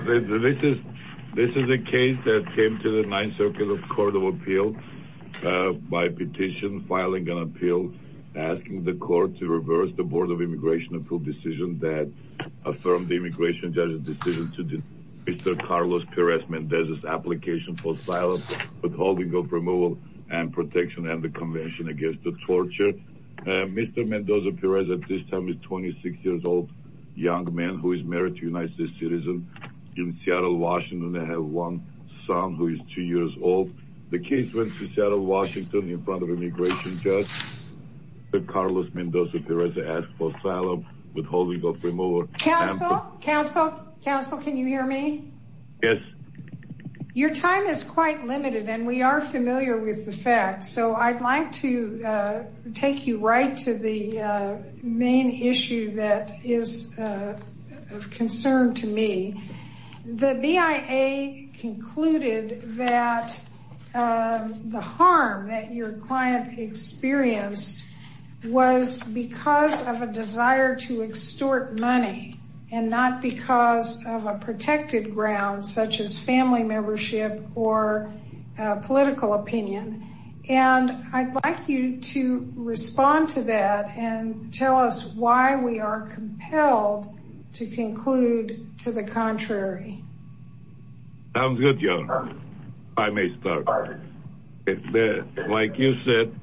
This is a case that came to the 9th Circuit Court of Appeal by petition, filing an appeal asking the court to reverse the Board of Immigration Appeal decision that affirmed the immigration judge's decision to dismiss Mr. Carlos Perez-Mendez's application for silence, withholding of removal and protection of the Convention against Torture. Mr. Mendoza-Perez at this time is a 26-year-old young man who is married to a United States citizen in Seattle, Washington. They have one son who is two years old. The case went to Seattle, Washington in front of an immigration judge. Carlos Mendoza-Perez asked for silence, withholding of removal. Counsel, counsel, counsel, can you hear me? Yes. Your time is quite limited and we are familiar with the facts. So I'd like to take you right to the main issue that is of concern to me. The BIA concluded that the harm that your client experienced was because of a desire to extort money and not because of a protected ground such as family membership or political opinion. And I'd like you to respond to that and tell us why we are compelled to conclude to the contrary. Sounds good, Your Honor. I may start. Like you said,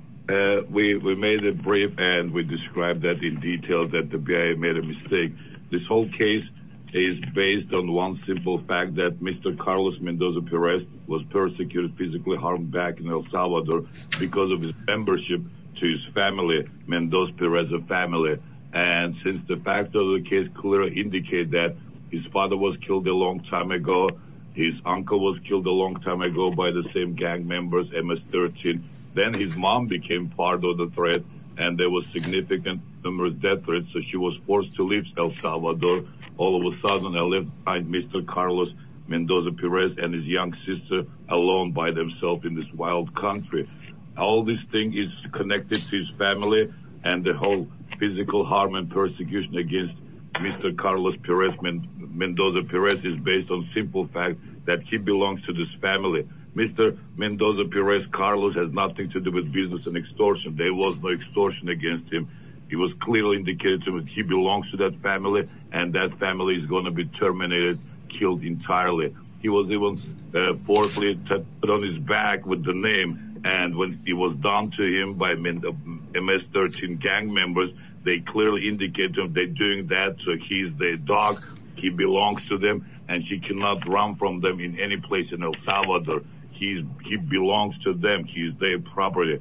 we made a brief and we described that in detail that the BIA made a mistake. This whole case is based on one simple fact that Mr. Carlos Mendoza-Perez was persecuted, physically harmed back in El Salvador because of his membership to his family, Mendoza-Perez family. And since the facts of the case clearly indicate that his father was killed a long time ago, his uncle was killed a long time ago by the same gang members, MS-13. Then his mom became part of the threat and there was significant death threats. So she was forced to leave El Salvador. All of a sudden I left Mr. Carlos Mendoza-Perez and his young sister alone by themselves in this wild country. All this thing is connected to his family and the whole physical harm and persecution against Mr. Carlos Mendoza-Perez is based on simple fact that he belongs to this family. Mr. Mendoza-Perez Carlos has nothing to do with business and extortion. There was no extortion against him. It was clearly indicated to him that he belongs to that family and that family is going to be terminated, killed entirely. He was even forcefully tapped on his back with the name. And when it was done to him by MS-13 gang members, they clearly indicated that they're doing that. So he's their dog. He belongs to them and he cannot run from them in any place in El Salvador. He belongs to them. He's their property.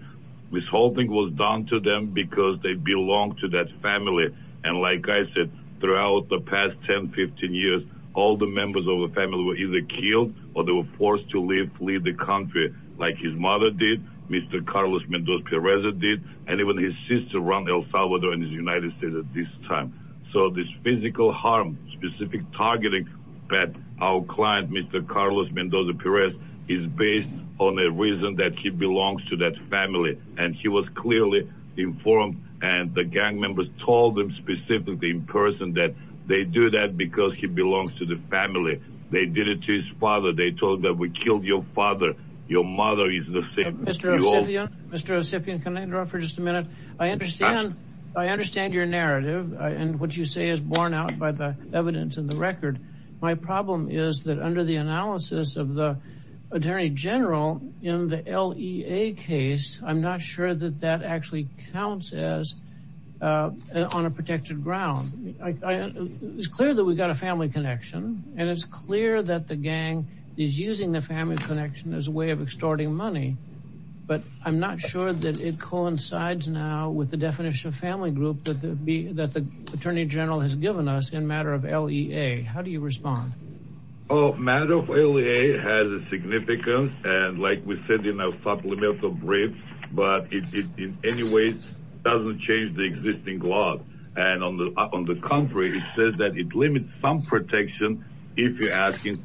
This whole thing was done to them because they belong to that family. And like I said, throughout the past 10, 15 years, all the members of the family were either killed or they were forced to leave the country like his mother did. Mr. Carlos Mendoza-Perez did. And even his sister run El Salvador and the United States at this time. So this physical harm, specific targeting that our client, Mr. Carlos Mendoza-Perez, is based on a reason that he belongs to that family. And he was clearly informed and the gang members told him specifically in person that they do that because he belongs to the family. They did it to his father. They told him that we killed your father. Your mother is the same. Mr. Ocipian, can I interrupt for just a minute? I understand your narrative and what you say is borne out by the evidence in the record. My problem is that under the analysis of the Attorney General in the LEA case, I'm not sure that that actually counts as on a protected ground. It's clear that we've got a family connection and it's clear that the gang is using the family connection as a way of extorting money. But I'm not sure that it coincides now with the definition of family group that the Attorney General has given us in matter of LEA. How do you respond? Oh, matter of LEA has a significance. And like we said in our supplemental brief, but it in any way doesn't change the existing law. And on the contrary, it says that it limits some protection if you're asking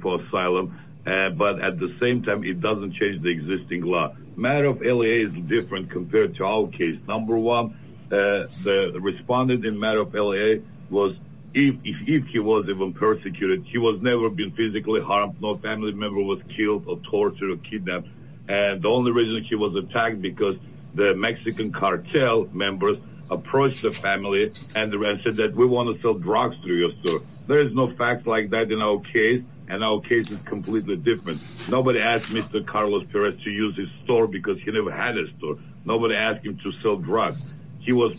for asylum. But at the same time, it doesn't change the existing law. Matter of LEA is different compared to our case. Number one, the respondent in matter of LEA was if he was even persecuted, he was never been physically harmed. No family member was killed or tortured or kidnapped. And the only reason he was attacked because the Mexican cartel members approached the family and said that we want to sell drugs through your store. There is no fact like that in our case. And our case is completely different. Nobody asked Mr. Carlos Perez to use his store because he never had a store. Nobody asked him to sell drugs. He was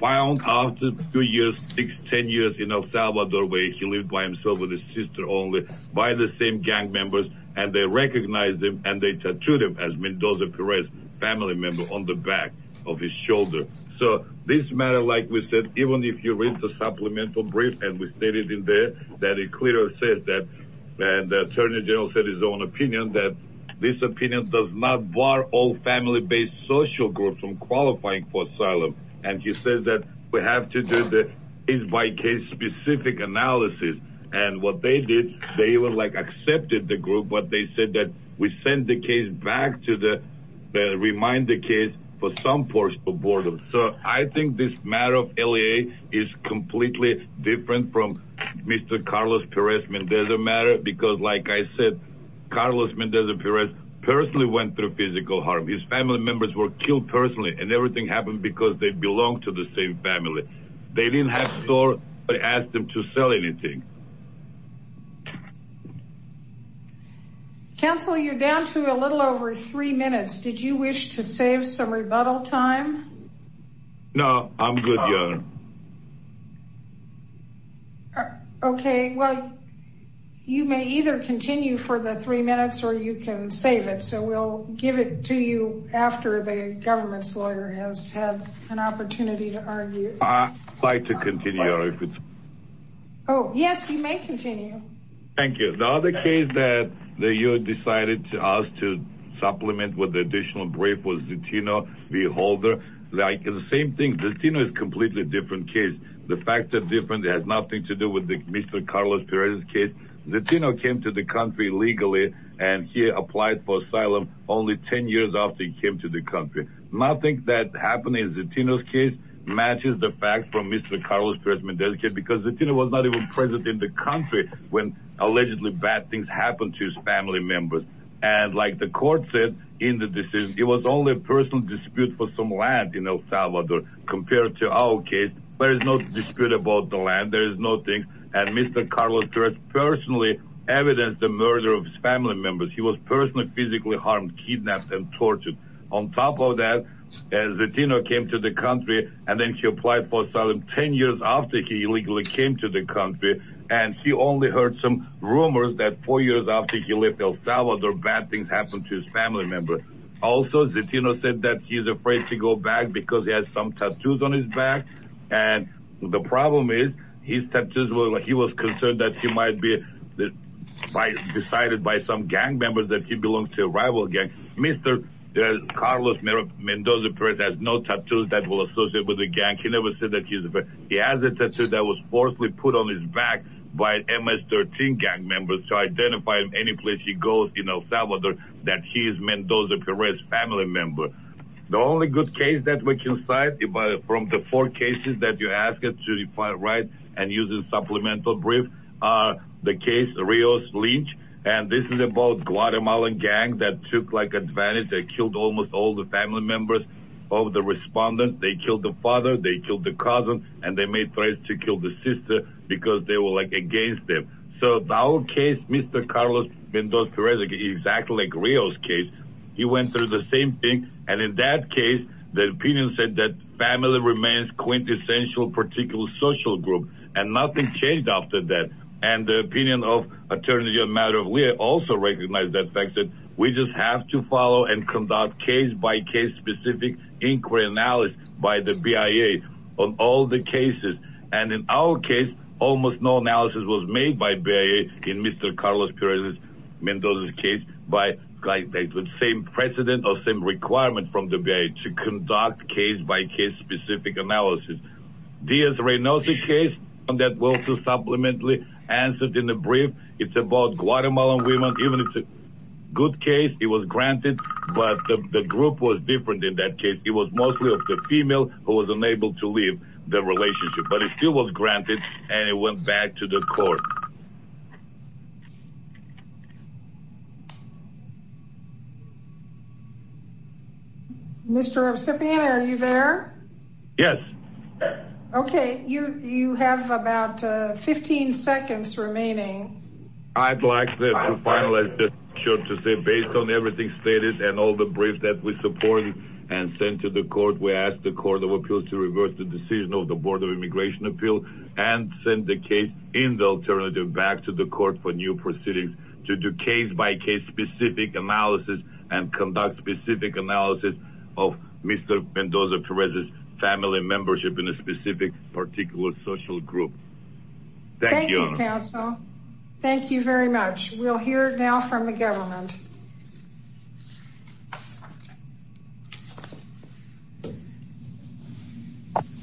found after two years, six, ten years in El Salvador where he lived by himself with his sister only by the same gang members. And they recognized him and they tattooed him as Mendoza Perez family member on the back of his shoulder. So this matter, like we said, even if you read the supplemental brief and we stated in there that it clearly says that the attorney general said his own opinion that this opinion does not bar all family based social groups from qualifying for asylum. And he says that we have to do the case by case specific analysis. And what they did, they were like accepted the group, but they said that we send the case back to the remind the case for some portion of boredom. So I think this matter of LEA is completely different from Mr. Carlos Perez Mendoza matter because like I said, Carlos Mendoza Perez personally went through physical harm. His family members were killed personally and everything happened because they belong to the same family. They didn't have store, but I asked them to sell anything. Counsel, you're down to a little over three minutes. Did you wish to save some rebuttal time? No, I'm good. Okay, well, you may either continue for the three minutes or you can save it. So we'll give it to you after the government's lawyer has had an opportunity to argue. Oh, yes, you may continue. Thank you. Now, the case that you decided to ask to supplement with additional brief was, you know, the older like the same thing. The Latino is completely different case. The fact that different has nothing to do with the Mr. Carlos Perez's case. The Latino came to the country legally and he applied for asylum only 10 years after he came to the country. Nothing that happened in the Latino's case matches the fact from Mr. Carlos Perez Mendoza's case because the Latino was not even present in the country when allegedly bad things happened to his family members. And like the court said in the decision, it was only a personal dispute for some land in El Salvador compared to our case. There is no dispute about the land. There is no thing. And Mr. Carlos Perez personally evidenced the murder of his family members. He was personally physically harmed, kidnapped and tortured. On top of that, the Latino came to the country and then he applied for asylum 10 years after he illegally came to the country. And he only heard some rumors that four years after he left El Salvador, bad things happened to his family members. Also, the Latino said that he's afraid to go back because he has some tattoos on his back. And the problem is his tattoos. He was concerned that he might be decided by some gang members that he belongs to a rival gang. Mr. Carlos Mendoza Perez has no tattoos that will associate with the gang. He never said that he's afraid. He has a tattoo that was forcibly put on his back by MS-13 gang members to identify him any place he goes in El Salvador that he is Mendoza Perez's family member. The only good case that we can cite from the four cases that you asked us to write and use as supplemental briefs are the case Rios-Lynch. And this is about Guatemalan gang that took advantage and killed almost all the family members of the respondents. They killed the father, they killed the cousin, and they made threats to kill the sister because they were against them. So our case, Mr. Carlos Mendoza Perez, exactly like Rios' case, he went through the same thing. And in that case, the opinion said that family remains quintessential particular social group. And nothing changed after that. And the opinion of Attorney General Maduro, we also recognize that fact that we just have to follow and conduct case-by-case specific inquiry analysis by the BIA on all the cases. And in our case, almost no analysis was made by BIA in Mr. Carlos Perez Mendoza's case by the same precedent or same requirement from the BIA to conduct case-by-case specific analysis. Diaz-Reynoso's case, that was also supplemented in the brief. It's about Guatemalan women. Even if it's a good case, it was granted. But the group was different in that case. It was mostly of the female who was unable to leave the relationship. But it still was granted, and it went back to the court. And all the briefs that we supported and sent to the court, we asked the Court of Appeals to reverse the decision of the Board of Immigration Appeals and send the case in the alternative back to the court for new proceedings to do case-by-case specific analysis and conduct specific analysis of Mr. Mendoza Perez's family membership in a specific particular social group. Thank you, counsel. Thank you very much. We'll hear now from the government.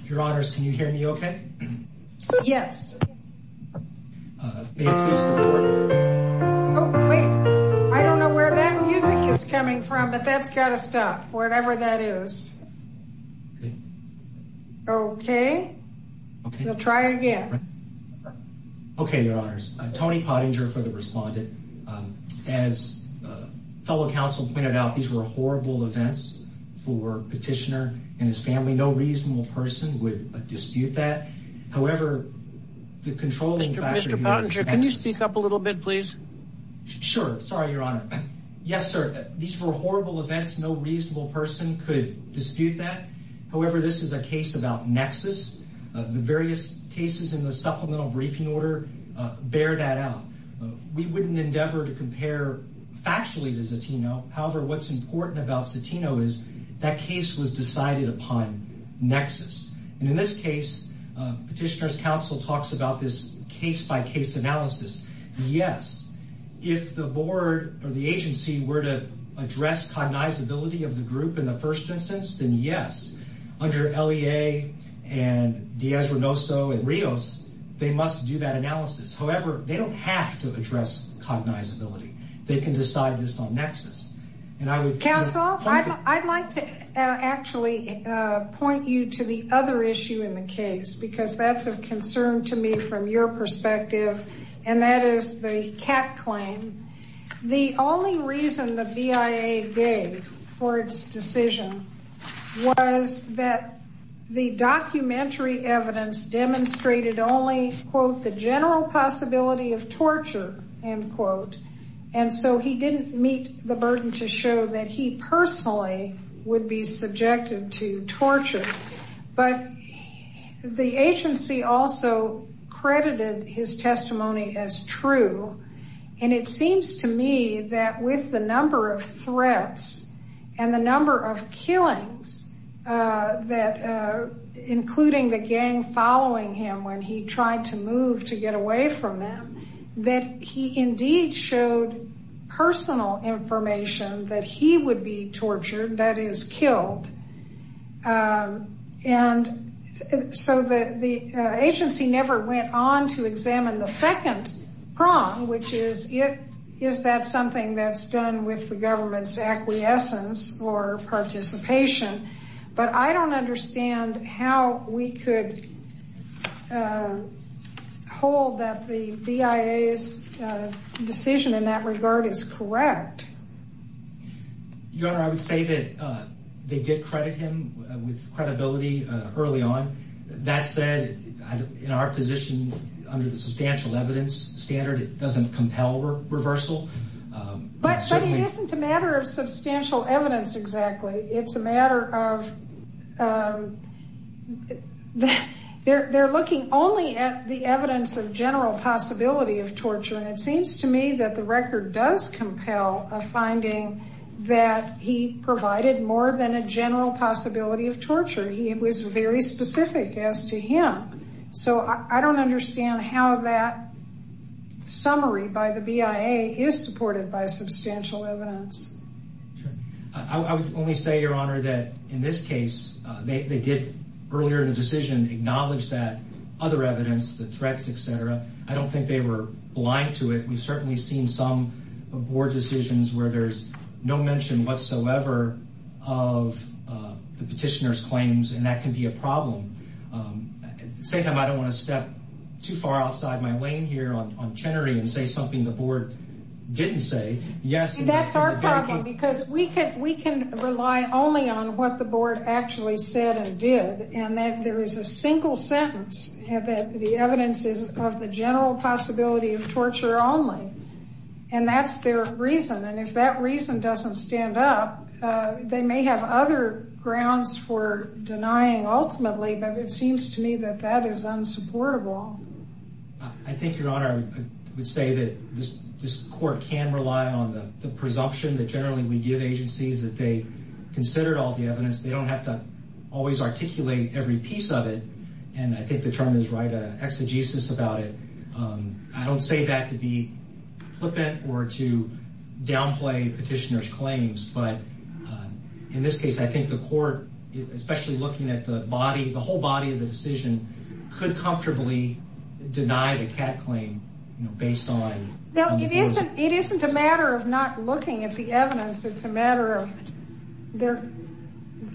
Your Honors, can you hear me okay? Yes. I don't know where that music is coming from, but that's got to stop, whatever that is. Okay. Okay. We'll try again. Okay, Your Honors. Tony Pottinger for the respondent. As fellow counsel pointed out, these were horrible events for Petitioner and his family. No reasonable person would dispute that. However, the controlling factor... Mr. Pottinger, can you speak up a little bit, please? Sure. Sorry, Your Honor. Yes, sir. These were horrible events. No reasonable person could dispute that. However, this is a case about nexus. The various cases in the supplemental briefing order bear that out. We wouldn't endeavor to compare factually to Cetino. However, what's important about Cetino is that case was decided upon nexus. And in this case, Petitioner's counsel talks about this case-by-case analysis. Yes. If the agency were to address cognizability of the group in the first instance, then yes. Under LEA and Diaz-Renoso and Rios, they must do that analysis. However, they don't have to address cognizability. They can decide this on nexus. Counsel, I'd like to actually point you to the other issue in the case, because that's of concern to me from your perspective, and that is the Catt claim. The only reason the BIA gave for its decision was that the documentary evidence demonstrated only, quote, the general possibility of torture, end quote. And so he didn't meet the burden to show that he personally would be subjected to torture. But the agency also credited his testimony as true. And it seems to me that with the number of threats and the number of killings, including the gang following him when he tried to move to get away from them, that he indeed showed personal information that he would be tortured, that is, killed. And so the agency never went on to examine the second prong, which is, is that something that's done with the government's acquiescence or participation? But I don't understand how we could hold that the BIA's decision in that regard is correct. Your Honor, I would say that they did credit him with credibility early on. That said, in our position, under the substantial evidence standard, it doesn't compel reversal. But it isn't a matter of substantial evidence exactly. It's a matter of they're looking only at the evidence of general possibility of torture. And it seems to me that the record does compel a finding that he provided more than a general possibility of torture. He was very specific as to him. So I don't understand how that summary by the BIA is supported by substantial evidence. I would only say, Your Honor, that in this case, they did earlier in the decision acknowledge that other evidence, the threats, et cetera. I don't think they were blind to it. We've certainly seen some board decisions where there's no mention whatsoever of the petitioner's claims. And that can be a problem. Same time, I don't want to step too far outside my lane here on Chenery and say something the board didn't say. Yes. That's our problem, because we can rely only on what the board actually said and did. And that there is a single sentence that the evidence is of the general possibility of torture only. And that's their reason. And if that reason doesn't stand up, they may have other grounds for denying ultimately. But it seems to me that that is unsupportable. I think, Your Honor, I would say that this court can rely on the presumption that generally we give agencies that they considered all the evidence. They don't have to always articulate every piece of it. And I think the term is right, an exegesis about it. I don't say that to be flippant or to downplay petitioner's claims. But in this case, I think the court, especially looking at the body, the whole body of the decision, could comfortably deny the Catt claim based on... It isn't a matter of not looking at the evidence. It's a matter of their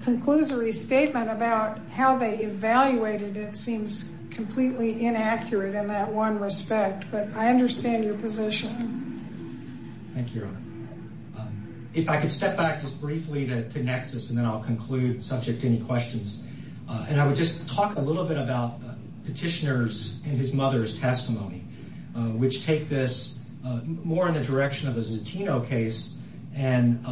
conclusory statement about how they evaluated it seems completely inaccurate in that one respect. But I understand your position. Thank you, Your Honor. If I could step back just briefly to Nexus and then I'll conclude subject to any questions. And I would just talk a little bit about petitioner's and his mother's testimony, which take this more in the direction of a Zatino case and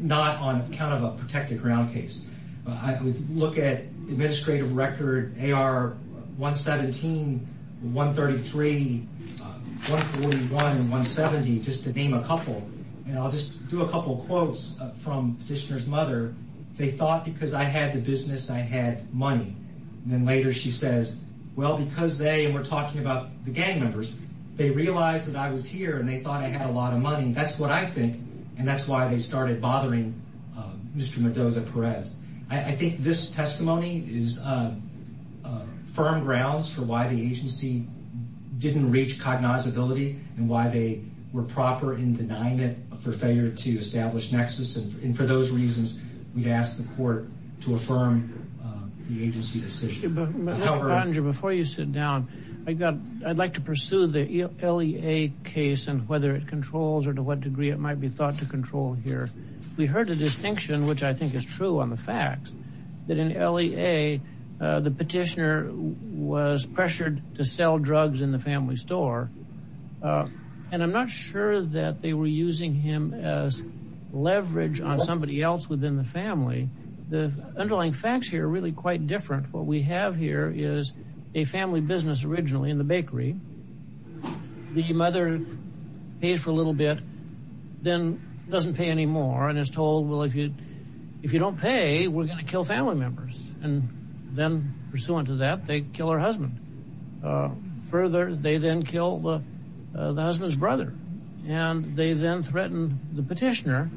not on account of a protected ground case. I would look at administrative record AR 117, 133, 141, 170, just to name a couple. And I'll just do a couple of quotes from petitioner's mother. They thought because I had the business, I had money. And then later she says, well, because they were talking about the gang members, they realized that I was here and they thought I had a lot of money. That's what I think. And that's why they started bothering Mr. Mendoza-Perez. I think this testimony is firm grounds for why the agency didn't reach cognizability and why they were proper in denying it for failure to establish Nexus. And for those reasons, we'd ask the court to affirm the agency decision. Before you sit down, I'd like to pursue the LEA case and whether it controls or to what degree it might be thought to control here. We heard a distinction, which I think is true on the facts that in LEA, the petitioner was pressured to sell drugs in the family store. And I'm not sure that they were using him as leverage on somebody else within the family. The underlying facts here are really quite different. What we have here is a family business originally in the bakery. The mother pays for a little bit, then doesn't pay any more and is told, well, if you don't pay, we're going to kill family members. And then pursuant to that, they kill her husband. Further, they then kill the husband's brother. And they then threatened the petitioner,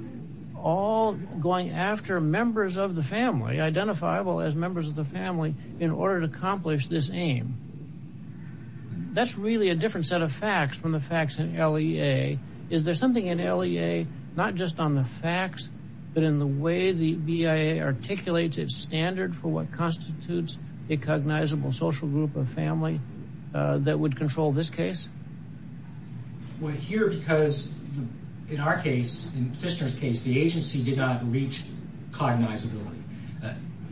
all going after members of the family, identifiable as members of the family, in order to accomplish this aim. That's really a different set of facts from the facts in LEA. Is there something in LEA, not just on the facts, but in the way the BIA articulates its standard for what constitutes a cognizable social group of family that would control this case? Well, here, because in our case, in the petitioner's case, the agency did not reach cognizability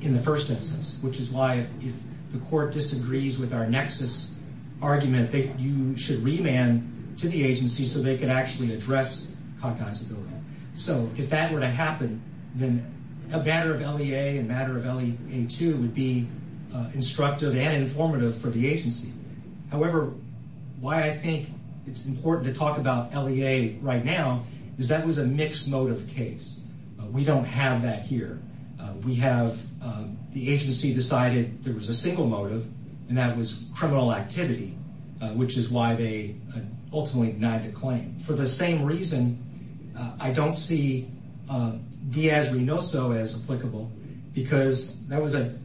in the first instance, which is why if the court disagrees with our nexus argument, you should remand to the agency so they could actually address cognizability. So if that were to happen, then a matter of LEA and a matter of LEA 2 would be instructive and informative for the agency. However, why I think it's important to talk about LEA right now is that was a mixed motive case. We don't have that here. We have the agency decided there was a single motive, and that was criminal activity, which is why they ultimately denied the claim. For the same reason, I don't see Diaz-Reynoso as applicable because that was a,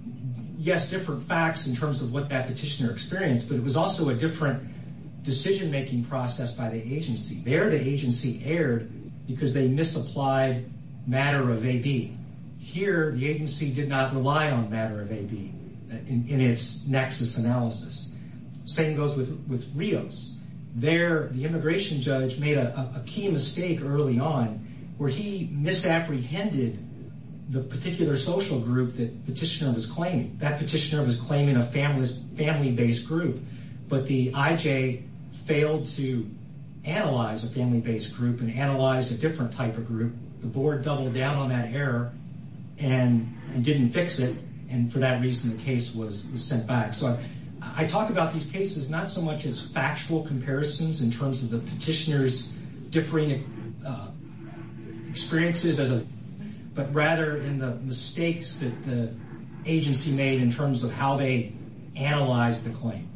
yes, different facts in terms of what that petitioner experienced, but it was also a different decision-making process by the agency. There, the agency erred because they misapplied matter of AB. Here, the agency did not rely on matter of AB in its nexus analysis. Same goes with Rios. There, the immigration judge made a key mistake early on where he misapprehended the particular social group that petitioner was claiming. That petitioner was claiming a family-based group, but the IJ failed to analyze a family-based group and analyzed a different type of group. The board doubled down on that error and didn't fix it, and for that reason, the case was sent back. I talk about these cases not so much as factual comparisons in terms of the petitioner's differing experiences, but rather in the mistakes that the agency made in terms of how they analyzed the claim.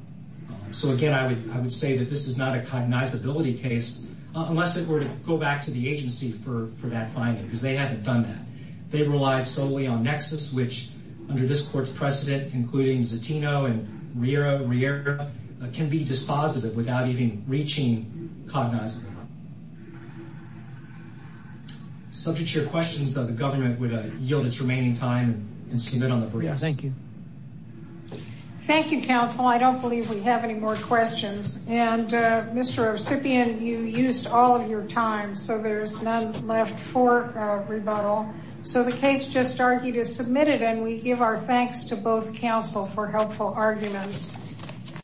Again, I would say that this is not a cognizability case unless it were to go back to the agency for that finding because they haven't done that. They relied solely on nexus, which under this court's precedent, including Zatino and Riera, can be dispositive without even reaching cognizance. Subject to your questions, the government would yield its remaining time and submit on the brief. Thank you. Thank you, counsel. I don't believe we have any more questions. Mr. Recipient, you used all of your time, so there's none left for rebuttal. The case just argued is submitted, and we give our thanks to both counsel for helpful arguments.